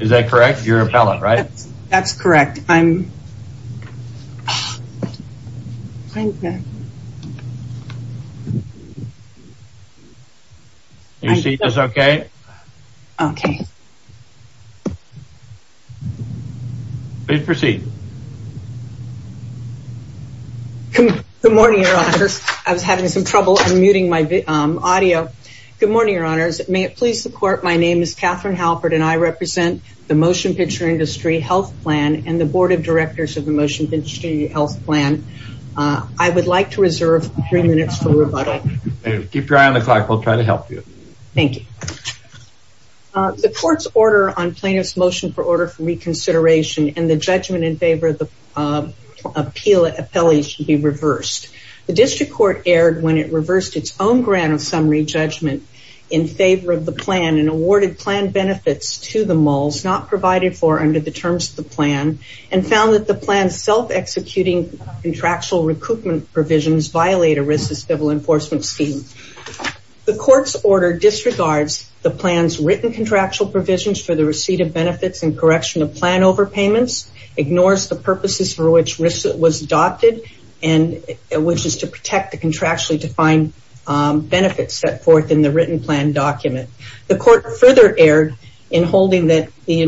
Is that correct? You're an appellate, right? That's correct. I'm, I'm back. Your seat is okay? Okay. Please proceed. Good morning, your honors. I was having some trouble unmuting my audio. Good morning, your honors. May it please the court. My name is Catherine Halpert and I represent the Motion Picture Industry Health Plan and the Board of Directors of the Motion Picture Industry Health Plan. I would like to reserve three minutes for rebuttal. Keep your eye on the clock. We'll try to help you. Thank you. The court's order on plaintiff's motion for order for reconsideration and the judgment in favor of the appeal appellee should be reversed. The district court erred when it reversed its own grant of summary judgment in favor of the plan and awarded plan benefits to the Mulls not provided for under the terms of the plan and found that the plan's self-executing contractual recoupment provisions violate ERISA's civil enforcement scheme. The court's order disregards the plan's written contractual provisions for the receipt of benefits and correction of plan overpayments, ignores the which is to protect the contractually defined benefits set forth in the written plan document. The court further erred in holding that the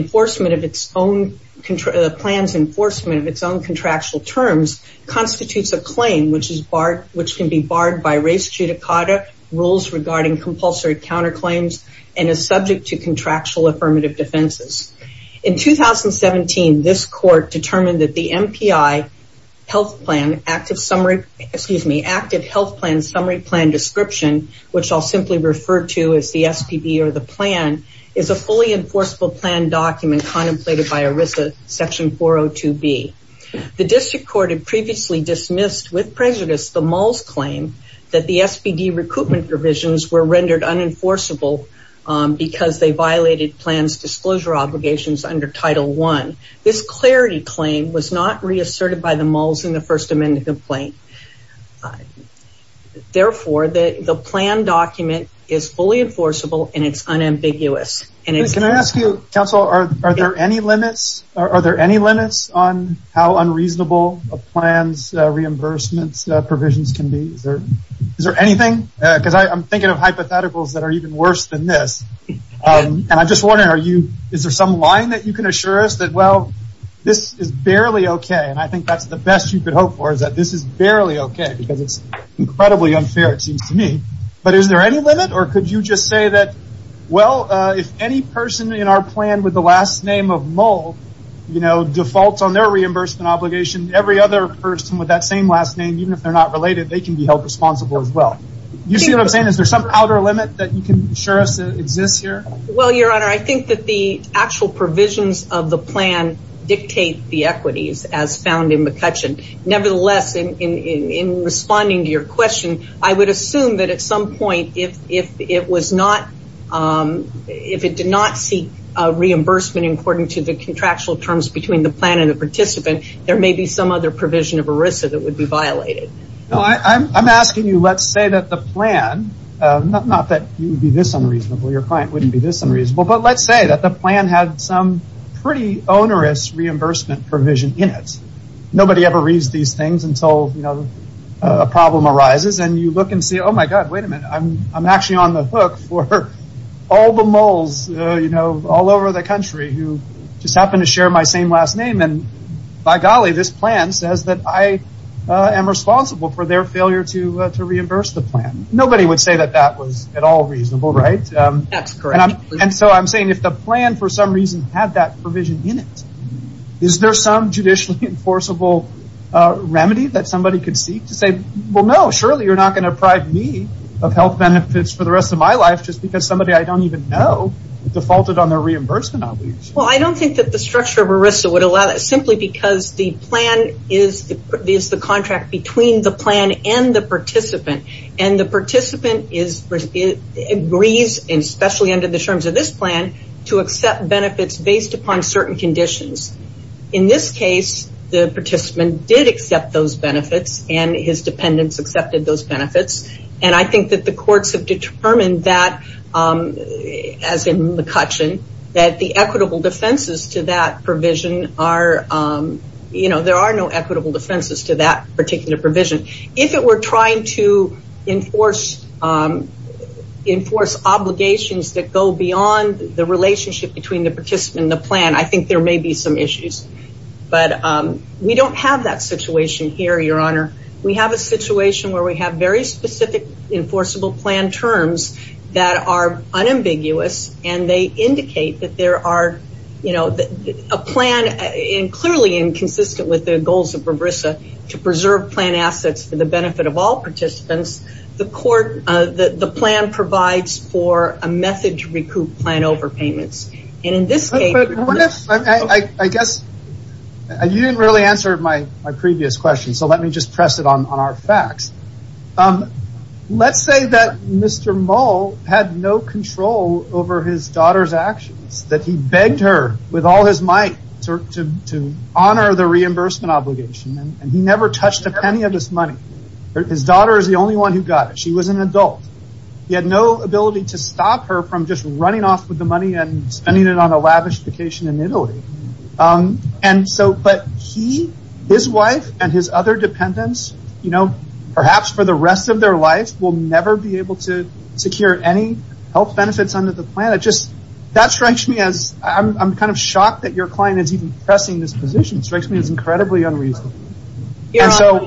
plan's enforcement of its own contractual terms constitutes a claim which can be barred by race judicata, rules regarding compulsory counterclaims, and is subject to contractual affirmative defenses. In 2017, this court determined that the MPI health plan active summary, excuse me, active health plan summary plan description, which I'll simply refer to as the SPB or the plan, is a fully enforceable plan document contemplated by ERISA section 402B. The district court had previously dismissed with prejudice the Mulls' claim that the SPD recoupment provisions were rendered unenforceable because they violated plans disclosure obligations under Title I. This clarity claim was not reasserted by the Mulls in the First Amendment complaint. Therefore, the plan document is fully enforceable and it's unambiguous. Can I ask you, counsel, are there any limits on how unreasonable a plan's reimbursement provisions can be? Is there anything? Because I'm thinking of hypotheticals that are even worse than this. And I'm just wondering, is there some line that you can assure us that, well, this is barely okay? And I think that's the best you could hope for is that this is barely okay because it's incredibly unfair, it seems to me. But is there any limit or could you just say that, well, if any person in our plan with the last name of Mull defaults on their reimbursement obligation, every other person with that same last name, even if they're not related, they can be held responsible as well. You see what I'm saying? Is there some outer limit that you can assure us that exists here? Well, Your Honor, I think that the actual provisions of the plan dictate the equities as found in McCutcheon. Nevertheless, in responding to your question, I would assume that at some point, if it did not seek a reimbursement according to the contractual terms between the plan and the participant, there may be some other provision of ERISA that would be violated. I'm asking you, let's say that the plan, not that you would be this unreasonable, your client wouldn't be this unreasonable, but let's say that the plan had some pretty onerous reimbursement provision in it. Nobody ever reads these things until a problem arises and you look and say, oh my God, wait a minute, I'm actually on the hook for all the moles all over the country who just happen to share my same last name and by golly, this plan says that I am responsible for their failure to reimburse the plan. Nobody would say that that was at all reasonable, right? That's correct. I'm saying if the plan for some reason had that provision in it, is there some judicially enforceable remedy that somebody could seek to say, well no, surely you're not going to deprive me of health benefits for the rest of my life just because somebody I don't even know defaulted on their reimbursement obligation. I don't think that the structure of ERISA would allow that simply because the plan is the contract between the plan and the participant and the participant agrees, especially under the terms of this plan, to accept benefits based upon certain conditions. In this case, the participant did accept those benefits and his dependents accepted those benefits and I think that the courts have determined that, as in McCutcheon, that the equitable defenses to that provision are, you know, there are no equitable defenses to that particular provision. If it were trying to enforce obligations that go beyond the relationship between the participant and the plan, I think there may be some issues. But we don't have that situation here, your honor. We have a situation where we have very far, you know, a plan clearly and consistent with the goals of ERISA to preserve plan assets for the benefit of all participants, the plan provides for a method to recoup plan overpayments. And in this case... What if, I guess, you didn't really answer my previous question so let me just press it on our facts. Let's say that Mr. Moll had no control over his daughter's actions, that he begged her with all his might to honor the reimbursement obligation and he never touched a penny of his money. His daughter is the only one who got it. She was an adult. He had no ability to stop her from just running off with the money and spending it on a lavish vacation in Italy. And so, but he, his wife and his other dependents, you know, perhaps for the rest of their life will never be able to secure any health benefits under the plan. That strikes me as... I'm kind of shocked that your client is even pressing this position, it strikes me as incredibly unreasonable. And so,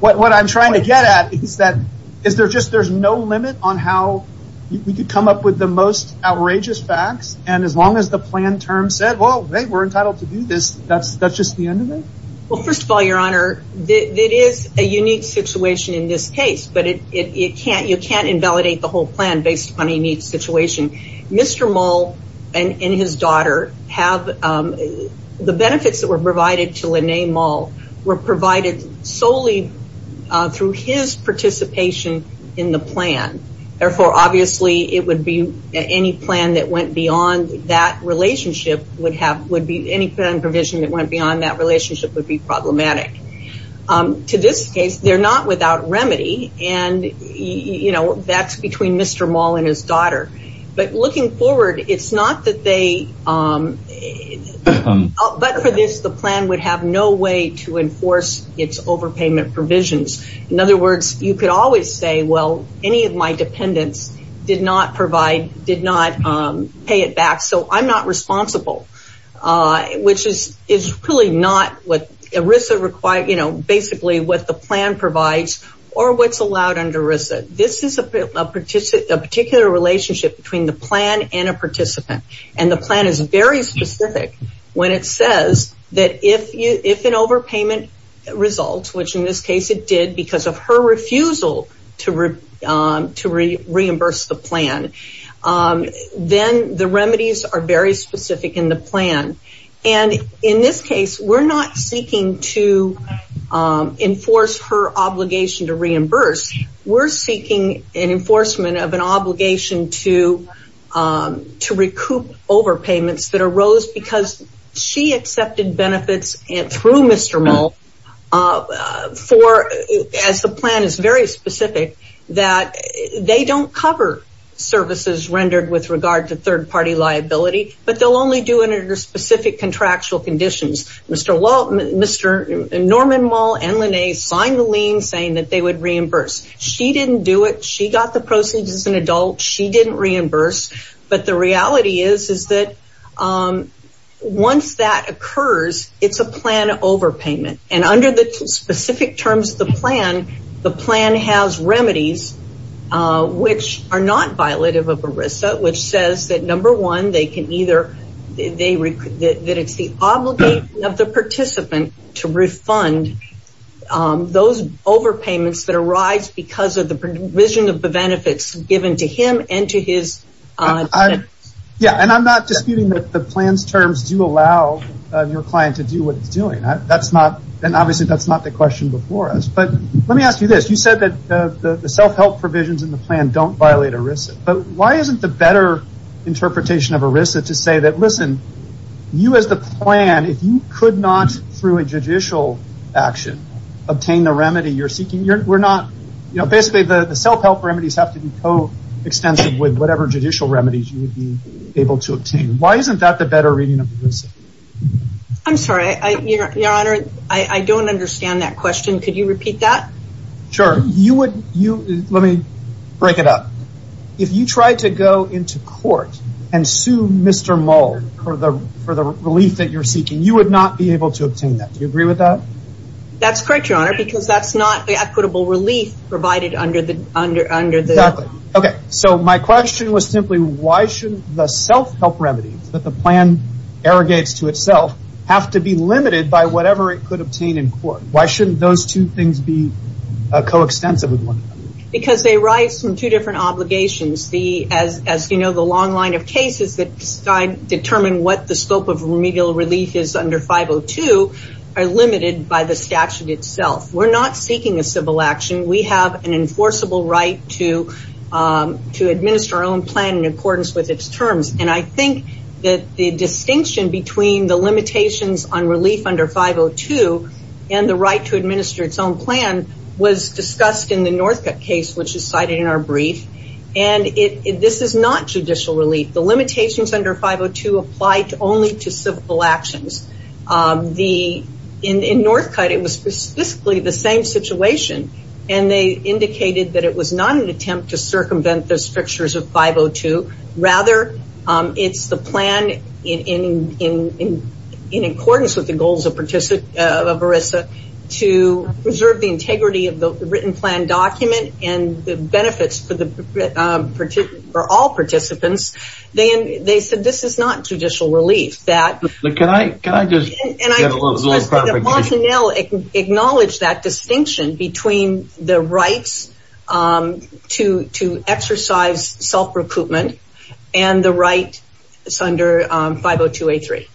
what I'm trying to get at is that there's no limit on how you could come up with the most outrageous facts and as long as the plan term said, well, hey, we're entitled to do this, that's just the end of it? Well, first of all, your honor, it is a unique situation in this case, but you can't invalidate the whole plan based on a unique situation. Mr. Moll and his daughter have, the benefits that were provided to Lene Moll were provided solely through his participation in the plan. Therefore, obviously, it would be any plan that went beyond that relationship would be problematic. To this case, they're not without remedy and, you know, that's between Mr. Moll and his daughter. But looking forward, it's not that they, but for this, the plan would have no way to enforce its overpayment provisions. In other words, you could always say, well, any of my dependents did not provide, did not pay it back, so I'm not responsible, which is really not what ERISA requires, you know, basically what the plan provides or what's allowed under ERISA. This is a particular relationship between the plan and a participant and the plan is very specific when it says that if an overpayment results, which in this case it did because of her refusal to reimburse the plan, then the remedies are very specific in the plan. And in this case, we're not seeking to enforce her obligation to reimburse. We're seeking an enforcement of an obligation to recoup overpayments that arose because she accepted benefits through Mr. Moll for, as the plan is very specific, that they don't cover services rendered with regard to third-party liability, but they'll only do it under specific contractual conditions. Mr. Norman Moll and Lynnae signed the lien saying that they would reimburse. She didn't do it. She got the proceeds as an adult. She didn't reimburse, but the reality is, is that once that occurs, it's a plan overpayment. And under the specific terms of the plan, the plan has remedies which are not violative of ERISA, which says that number one, they can either, that it's the obligation of the participant to refund those overpayments that arise because of the provision of the benefits given to him and to his... Yeah, and I'm not disputing that the plan's terms do allow your client to do what it's doing. That's not, and obviously that's not the question before us, but let me ask you this. You said that the self-help provisions in the plan don't violate ERISA, but why isn't the better interpretation of ERISA to say that, listen, you as the plan, if you could not, through a judicial action, obtain the remedy you're seeking, we're not, you know, basically the self-help remedies have to be co-extensive with whatever judicial remedies you would be able to obtain. Why isn't that the better reading of ERISA? I'm sorry. Your Honor, I don't understand that question. Could you repeat that? Sure. You would, let me break it up. If you tried to go into court and sue Mr. Mull for the relief that you're seeking, you would not be able to obtain that. Do you agree with that? That's correct, Your Honor, because that's not the equitable relief provided under the... Exactly. Okay. So my question was simply, why should the self-help remedies that the plan arrogates to itself have to be limited by whatever it could obtain in court? Why shouldn't those two things be co-extensive with one another? Because they arise from two different obligations. As you know, the long line of cases that determine what the scope of remedial relief is under 502 are limited by the statute itself. We're not seeking a civil action. We have an enforceable right to administer our own plan in accordance with its terms. I think that the distinction between the limitations on relief under 502 and the right to administer its own plan was discussed in the Northcutt case, which is cited in our brief. This is not judicial relief. The limitations under 502 apply only to civil actions. In Northcutt, it was specifically the same situation, and they indicated that it was not an attempt to circumvent the strictures of 502, rather it's the plan in accordance with the goals of ERISA to preserve the integrity of the written plan document and the benefits for all participants. They said this is not judicial relief. Can I just get a little clarification? The personnel acknowledged that distinction between the rights to exercise self-recoupment and the rights under 502A3.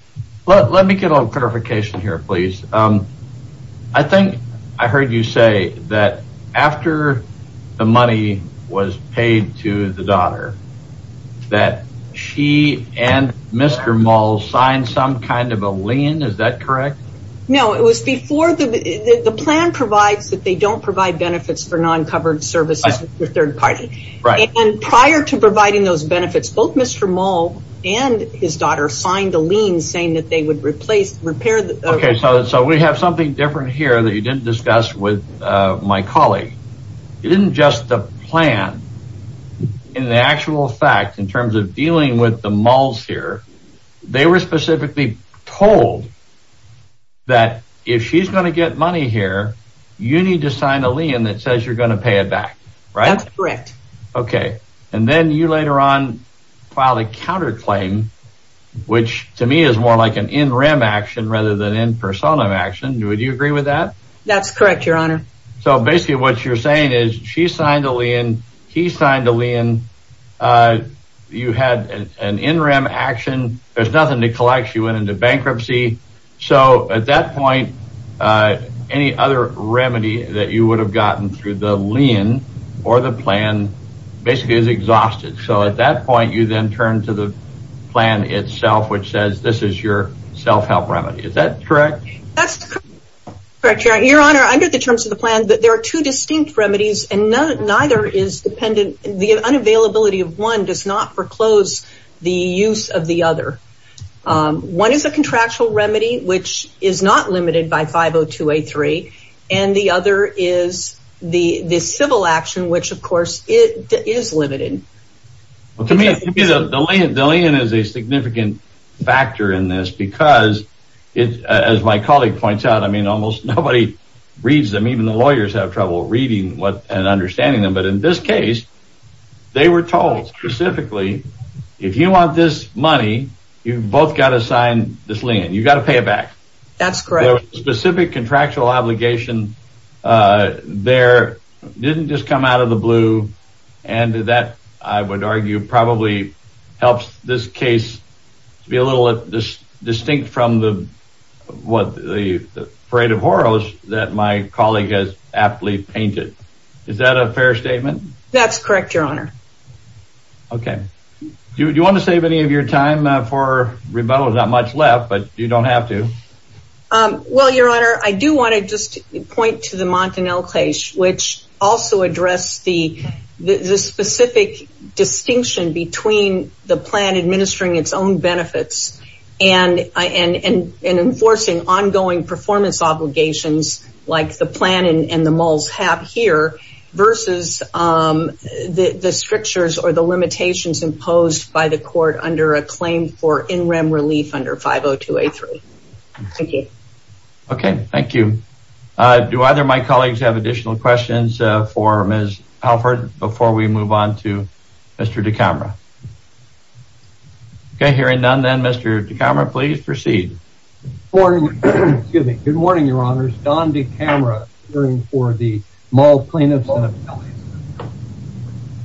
Let me get a little clarification here, please. I think I heard you say that after the money was paid to the daughter, that she and Mr. Moll signed some kind of a lien. Is that correct? No. It was before. The plan provides that they don't provide benefits for non-covered services for third party. Right. Prior to providing those benefits, both Mr. Moll and his daughter signed a lien saying that they would repair the... So we have something different here that you didn't discuss with my colleague. It isn't just the plan. In the actual fact, in terms of dealing with the Molls here, they were specifically told that if she's going to get money here, you need to sign a lien that says you're going to pay it back. Right? That's correct. Okay. And then you later on filed a counterclaim, which to me is more like an in rem action rather than in persona action. Would you agree with that? That's correct, your honor. So basically what you're saying is she signed a lien, he signed a lien. You had an in rem action. There's nothing to collect. She went into bankruptcy. So at that point, any other remedy that you would have gotten through the lien or the plan basically is exhausted. So at that point, you then turn to the plan itself, which says this is your self-help remedy. Is that correct? That's correct, your honor. Under the terms of the plan, there are two distinct remedies, and neither is dependent... The unavailability of one does not foreclose the use of the other. One is a contractual remedy, which is not limited by 502A3, and the other is the civil action, which of course is limited. To me, the lien is a significant factor in this because, as my colleague points out, I mean, almost nobody reads them. Even the lawyers have trouble reading and understanding them. But in this case, they were told specifically, if you want this money, you've both got to sign this lien. You've got to pay it back. That's correct. So a specific contractual obligation there didn't just come out of the blue, and that, I would argue, probably helps this case to be a little distinct from the parade of horrors that my colleague has aptly painted. Is that a fair statement? That's correct, your honor. Okay. Do you want to save any of your time for rebuttal? There's not much left, but you don't have to. Well, your honor, I do want to just point to the Montanel case, which also addressed the specific distinction between the plan administering its own benefits and enforcing ongoing performance obligations, like the plan and the mulls have here, versus the strictures or the limitations imposed by the court under a claim for in-rem relief under 502A3. Thank you. Okay. Thank you. Do either of my colleagues have additional questions for Ms. Halford before we move on to Mr. DiCamera? Okay. Hearing none, then, Mr. DiCamera, please proceed. Good morning, your honors. Don DiCamera, appearing for the mall plaintiffs.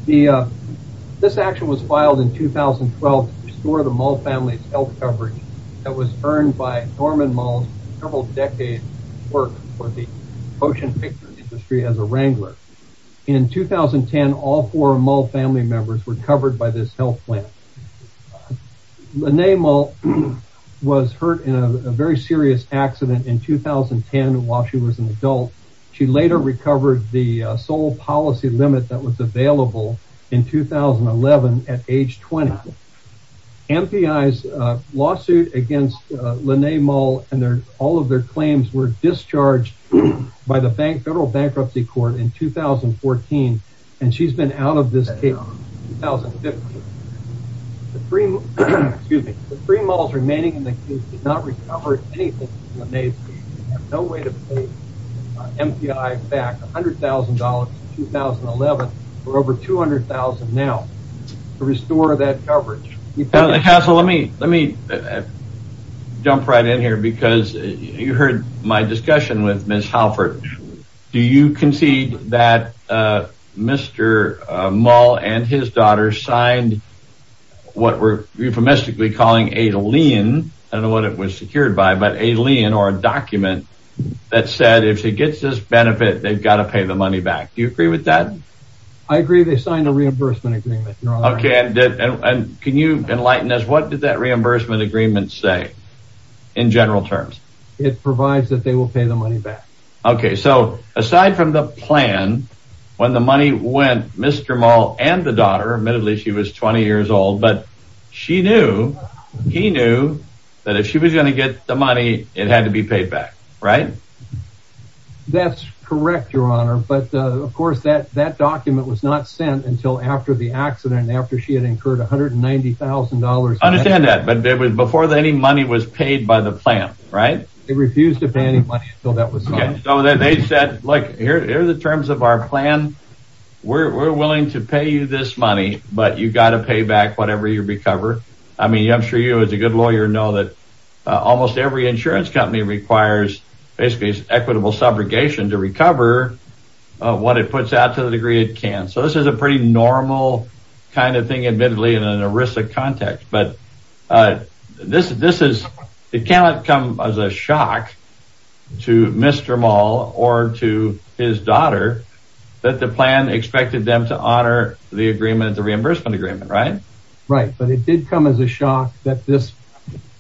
This action was filed in 2012 to restore the mull family's health coverage that was earned by Norman Mull's several decades' work for the ocean picture industry as a wrangler. In 2010, all four mull family members were covered by this health plan. Lene Mull was hurt in a very serious accident in 2010 while she was an adult. She later recovered the sole policy limit that was available in 2011 at age 20. MPI's lawsuit against Lene Mull and all of their claims were discharged by the federal bankruptcy court in 2014, and she's been out of this case since 2015. The three mulls remaining in the case did not recover anything from Lene's case. We have no way to pay MPI back $100,000 in 2011 for over $200,000 now to restore that coverage. Counsel, let me jump right in here because you heard my discussion with Ms. Halford. Do you concede that Mr. Mull and his daughter signed what we're euphemistically calling a lien or a document that said if she gets this benefit, they've got to pay the money back? Do you agree with that? I agree they signed a reimbursement agreement. Can you enlighten us? What did that reimbursement agreement say in general terms? It provides that they will pay the money back. Aside from the plan, when the money went, Mr. Mull and the daughter, admittedly she was 20 years old, but she knew, he knew that if she was going to get the money, it had to be paid back, right? That's correct, your honor, but of course that document was not sent until after the accident and after she had incurred $190,000. I understand that, but it was before any money was paid by the plan, right? They refused to pay any money until that was signed. So they said, look, here are the terms of our plan. We're willing to pay you this money, but you've got to pay back whatever you recover. I mean, I'm sure you as a good lawyer know that almost every insurance company requires basically equitable subrogation to recover what it puts out to the degree it can. So this is a pretty normal kind of thing, admittedly, in an ERISA context. But this is, it cannot come as a shock to Mr. Mull or to his daughter that the plan expected them to honor the agreement, the reimbursement agreement, right? Right, but it did come as a shock that this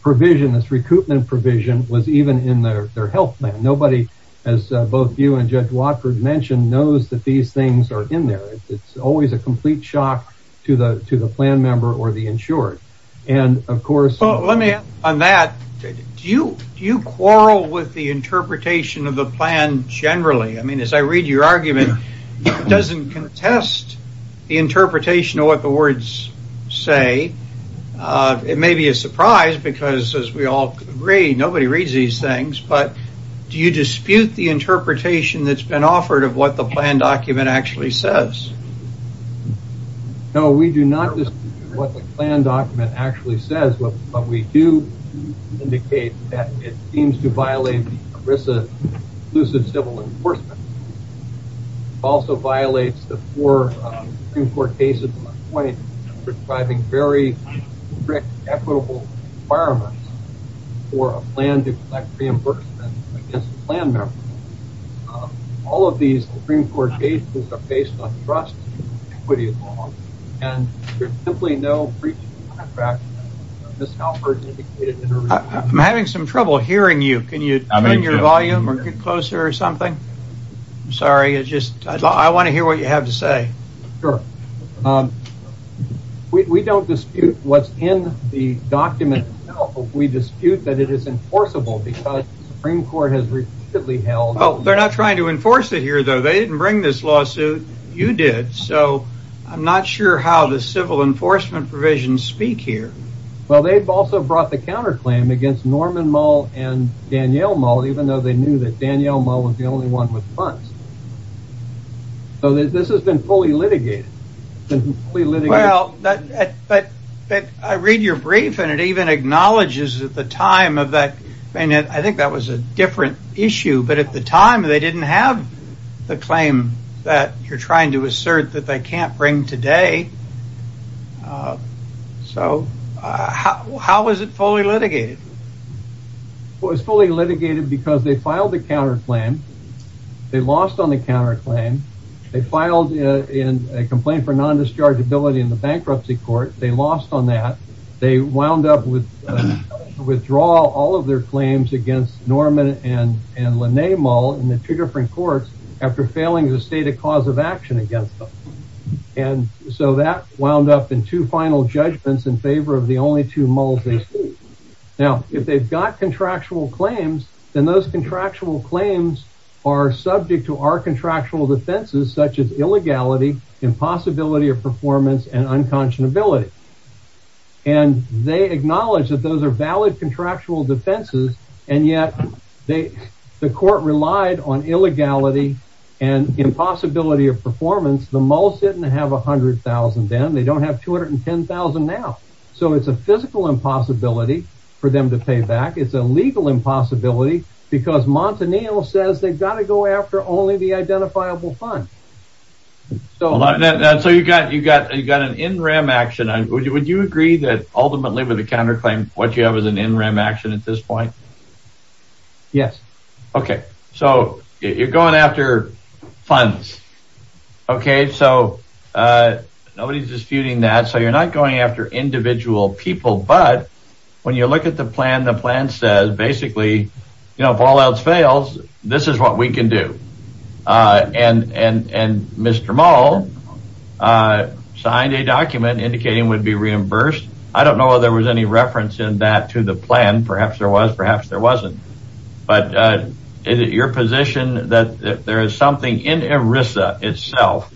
provision, this recoupment provision was even in their health plan. Nobody, as both you and Judge Watford mentioned, knows that these things are in there. It's always a complete shock to the plan member or the insured. And of course... Well, let me add on that, do you quarrel with the interpretation of the plan generally? I mean, as I read your argument, it doesn't contest the interpretation of what the words say. It may be a surprise because as we all agree, nobody reads these things. But do you dispute the interpretation that's been offered of what the plan document actually says? No, we do not dispute what the plan document actually says, but we do indicate that it seems to violate ERISA's inclusive civil enforcement. It also violates the four Supreme Court cases in my point, prescribing very strict, equitable requirements for a plan to collect reimbursement against the plan member. All of these Supreme Court cases are based on trust and equity law, and there's simply no breach of contract, miscalculation indicated in ERISA. I'm having some trouble hearing you. Can you turn your volume or get closer or something? I'm sorry, it's just I want to hear what you have to say. Sure. We don't dispute what's in the document itself, but we dispute that it is enforceable because the Supreme Court has repeatedly held. Oh, they're not trying to enforce it here, though. They didn't bring this lawsuit. You did. So I'm not sure how the civil enforcement provisions speak here. Well, they've also brought the counterclaim against Norman Moll and Danielle Moll, even though they knew that Danielle Moll was the only one with funds. So this has been fully litigated. Well, but I read your brief and it even acknowledges at the time of that, and I think that was a different issue. But at the time, they didn't have the claim that you're trying to assert that they can't bring today. So how is it fully litigated? Well, it's fully litigated because they filed the counterclaim, they lost on the claim for non-dischargeability in the bankruptcy court. They lost on that. They wound up with withdrawal, all of their claims against Norman and Lene Moll in the two different courts after failing to state a cause of action against them. And so that wound up in two final judgments in favor of the only two Molls. Now, if they've got contractual claims, then those contractual claims are subject to our impossibility of performance and unconscionability. And they acknowledge that those are valid contractual defenses, and yet they the court relied on illegality and impossibility of performance. The Molls didn't have a hundred thousand then. They don't have two hundred and ten thousand now. So it's a physical impossibility for them to pay back. It's a legal impossibility because Montanil says they've got to go after only the Molls. So you've got an in rem action. Would you agree that ultimately with the counterclaim, what you have is an in rem action at this point? Yes. OK, so you're going after funds. OK, so nobody's disputing that. So you're not going after individual people. But when you look at the plan, the plan says basically, you know, if all else fails, this is what we can do. And Mr. Moll signed a document indicating would be reimbursed. I don't know whether there was any reference in that to the plan. Perhaps there was. Perhaps there wasn't. But is it your position that there is something in ERISA itself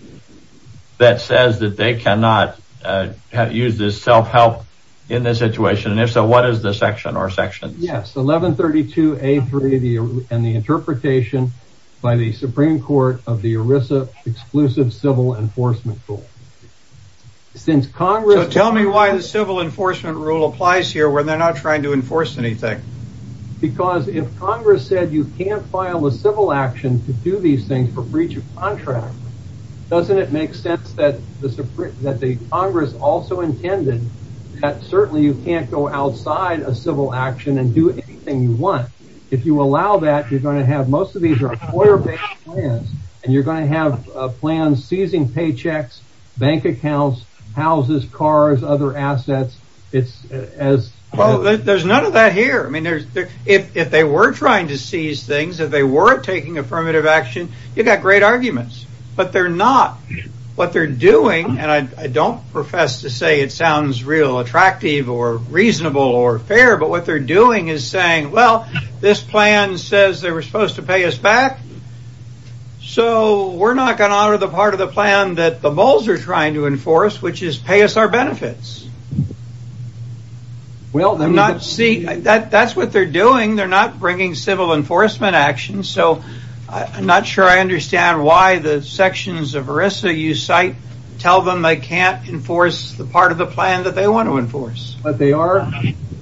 that says that they cannot use this self-help in this situation? And if so, what is the section or section? Yes. 1132 A3 and the interpretation by the Supreme Court of the ERISA exclusive civil enforcement rule. Since Congress. So tell me why the civil enforcement rule applies here where they're not trying to enforce anything. Because if Congress said you can't file a civil action to do these things for breach of contract, doesn't it make sense that the Congress also intended that certainly you can't go outside a civil action and do anything you want if you allow that you're going to have most of these are. And you're going to have a plan seizing paychecks, bank accounts, houses, cars, other assets. It's as there's none of that here. I mean, if they were trying to seize things, if they were taking affirmative action, you've got great arguments. But they're not what they're doing. And I don't profess to say it sounds real attractive or reasonable or fair. But what they're doing is saying, well, this plan says they were supposed to pay us back. So we're not going to honor the part of the plan that the bulls are trying to enforce, which is pay us our benefits. Well, I'm not see that that's what they're doing. They're not bringing civil enforcement action. So I'm not sure I understand why the sections of ERISA you cite tell them they can't enforce the part of the plan that they want to enforce. But they are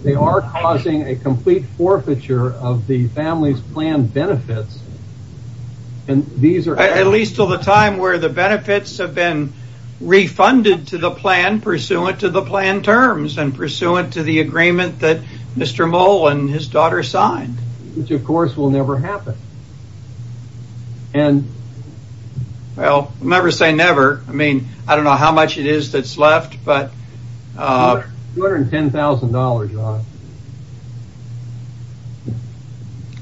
they are causing a complete forfeiture of the family's plan benefits. And these are at least till the time where the benefits have been refunded to the plan pursuant to the plan terms and pursuant to the agreement that Mr. Mullen, his daughter, signed, which, of course, will never happen. And well, never say never. I mean, I don't know how much it is that's left. But $210,000.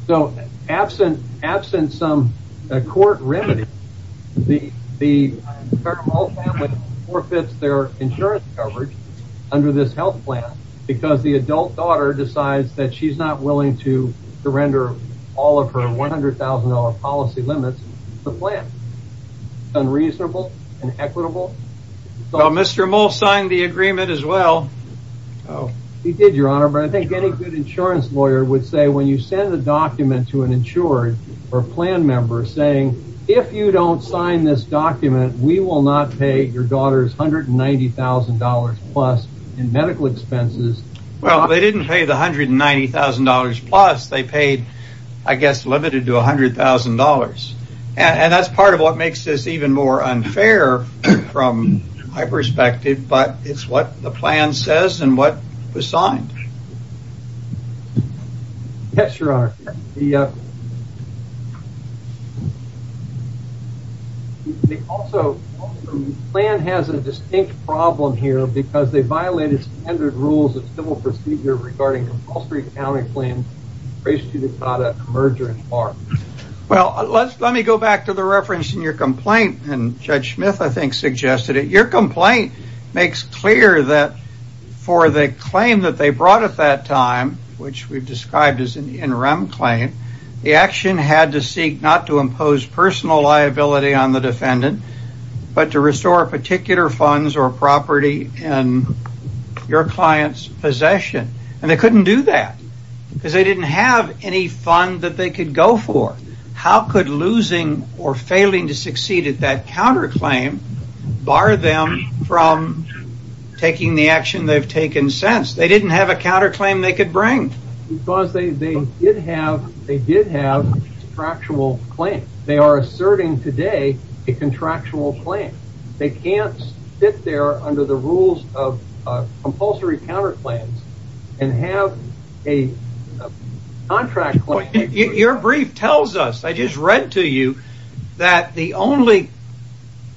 So absent absent some court remedy, the the family forfeits their insurance coverage under this health plan because the adult daughter decides that she's not willing to surrender all of her $100,000 policy limits. The plan is unreasonable and equitable. So Mr. Mullen signed the agreement as well. He did, your honor. But I think any good insurance lawyer would say when you send a document to an insured or a plan member saying if you don't sign this document, we will not pay your daughter's $190,000 plus in medical expenses. Well, they didn't pay the $190,000 plus they paid, I guess, limited to $100,000. And that's part of what makes this even more unfair from my perspective. But it's what the plan says and what was signed. Yes, your honor. The plan has a distinct problem here because they violated standard rules of civil procedure regarding the Wall Street County plan. Well, let me go back to the reference in your complaint and Judge Smith, I think, suggested it. Your complaint makes clear that for the claim that they brought at that time, which we've described as an interim claim, the action had to seek not to impose personal liability on the defendant, but to restore particular funds or property in your client's possession. And they couldn't do that because they didn't have any fund that they could go for. How could losing or failing to succeed at that counterclaim bar them from taking the action they've taken since? They didn't have a counterclaim they could bring because they did have a contractual claim. They are asserting today a contractual claim. They can't sit there under the rules of compulsory counterclaims and have a contract. Your brief tells us, I just read to you, that the only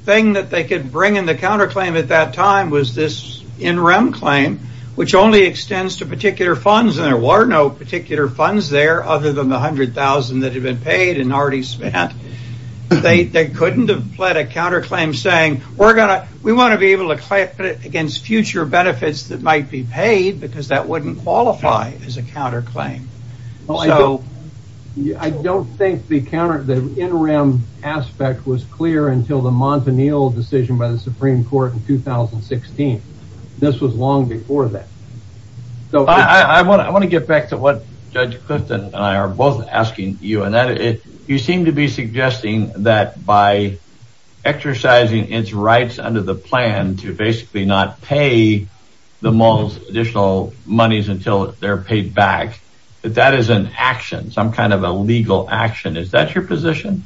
thing that they could bring in the counterclaim at that time was this interim claim, which only extends to particular funds and there were no particular funds there other than the 100,000 that had been paid and we want to be able to fight against future benefits that might be paid because that wouldn't qualify as a counterclaim. I don't think the interim aspect was clear until the Montanil decision by the Supreme Court in 2016. This was long before that. So I want to get back to what Judge Clifton and I are both asking you, and you seem to be suggesting that by exercising its rights under the plan to basically not pay the additional monies until they're paid back, that that is an action, some kind of a legal action. Is that your position?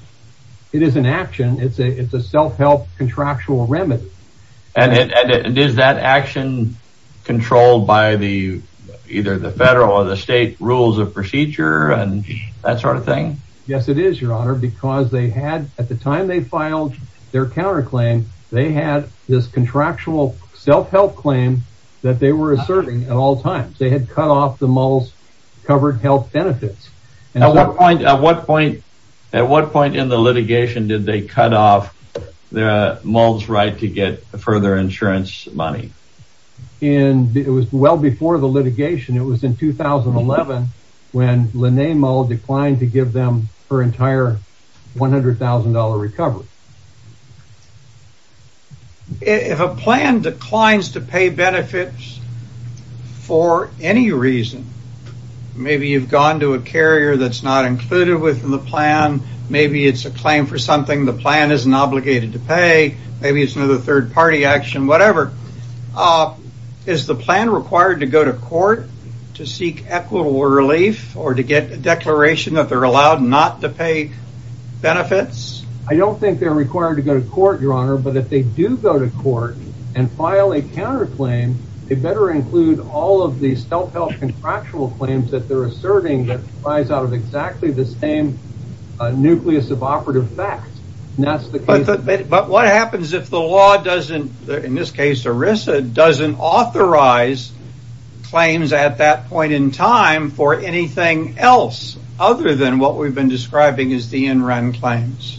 It is an action. It's a it's a self-help contractual remedy. And is that action controlled by the either the federal or the state rules of procedure and that sort of thing? Yes, it is, Your Honor, because they had at the time they filed their counterclaim, they had this contractual self-help claim that they were asserting at all times. They had cut off the moles covered health benefits. And at what point at what point at what point in the litigation did they cut off the moles right to get further insurance money? And it was well before the litigation. It was in 2011 when the name declined to give them her entire one hundred thousand dollar recovery. If a plan declines to pay benefits for any reason, maybe you've gone to a carrier that's not included within the plan. Maybe it's a claim for something the plan isn't obligated to pay. Maybe it's another third party action, whatever is the plan required to go to court. To seek equitable relief or to get a declaration that they're allowed not to pay benefits. I don't think they're required to go to court, Your Honor, but if they do go to court and file a counterclaim, they better include all of these self-help contractual claims that they're asserting that rise out of exactly the same nucleus of operative facts. But what happens if the law doesn't, in this case, ERISA doesn't authorize claims at that point in time for anything else other than what we've been describing as the in-run claims?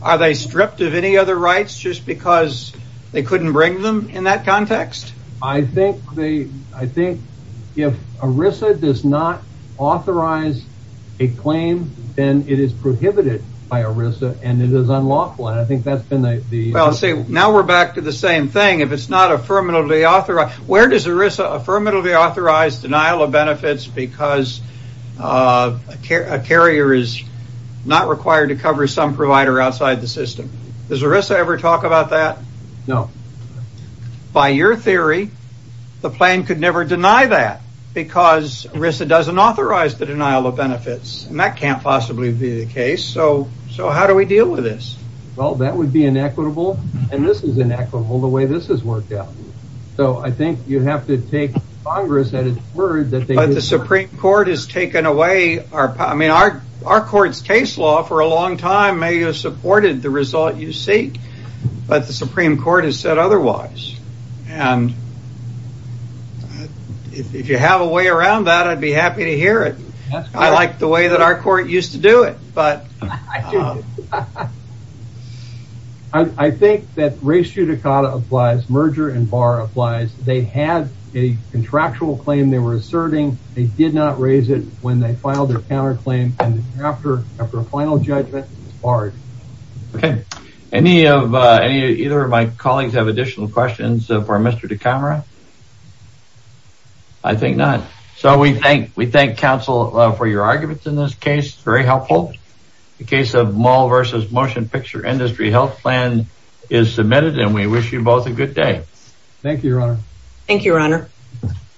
Are they stripped of any other rights just because they couldn't bring them in that context? I think they I think if ERISA does not authorize a claim, then it is prohibited by ERISA and it is unlawful. And I think that's been the well, see, now we're back to the same thing. If it's not affirmatively authorized, where does ERISA affirmatively authorize denial of benefits because a carrier is not required to cover some provider outside the system? Does ERISA ever talk about that? No. By your theory, the plan could never deny that because ERISA doesn't authorize the denial of benefits and that can't possibly be the case. So so how do we deal with this? Well, that would be inequitable and this is inequitable the way this has worked out. So I think you have to take Congress at its word that the Supreme Court has taken away our I mean, our our court's case law for a long time may have supported the result you seek, but the Supreme Court has said otherwise. And if you have a way around that, I'd be happy to hear it. I like the way that our court used to do it. But I think that race judicata applies. Merger and bar applies. They had a contractual claim they were asserting. They did not raise it when they filed their counterclaim. And after a final judgment, it's barred. OK, any of either of my colleagues have additional questions for Mr. DiCamera? I think not. So we think we thank counsel for your arguments in this case. Very helpful. The case of mall versus motion picture industry health plan is submitted and we wish you both a good day. Thank you, Your Honor. Thank you, Your Honor.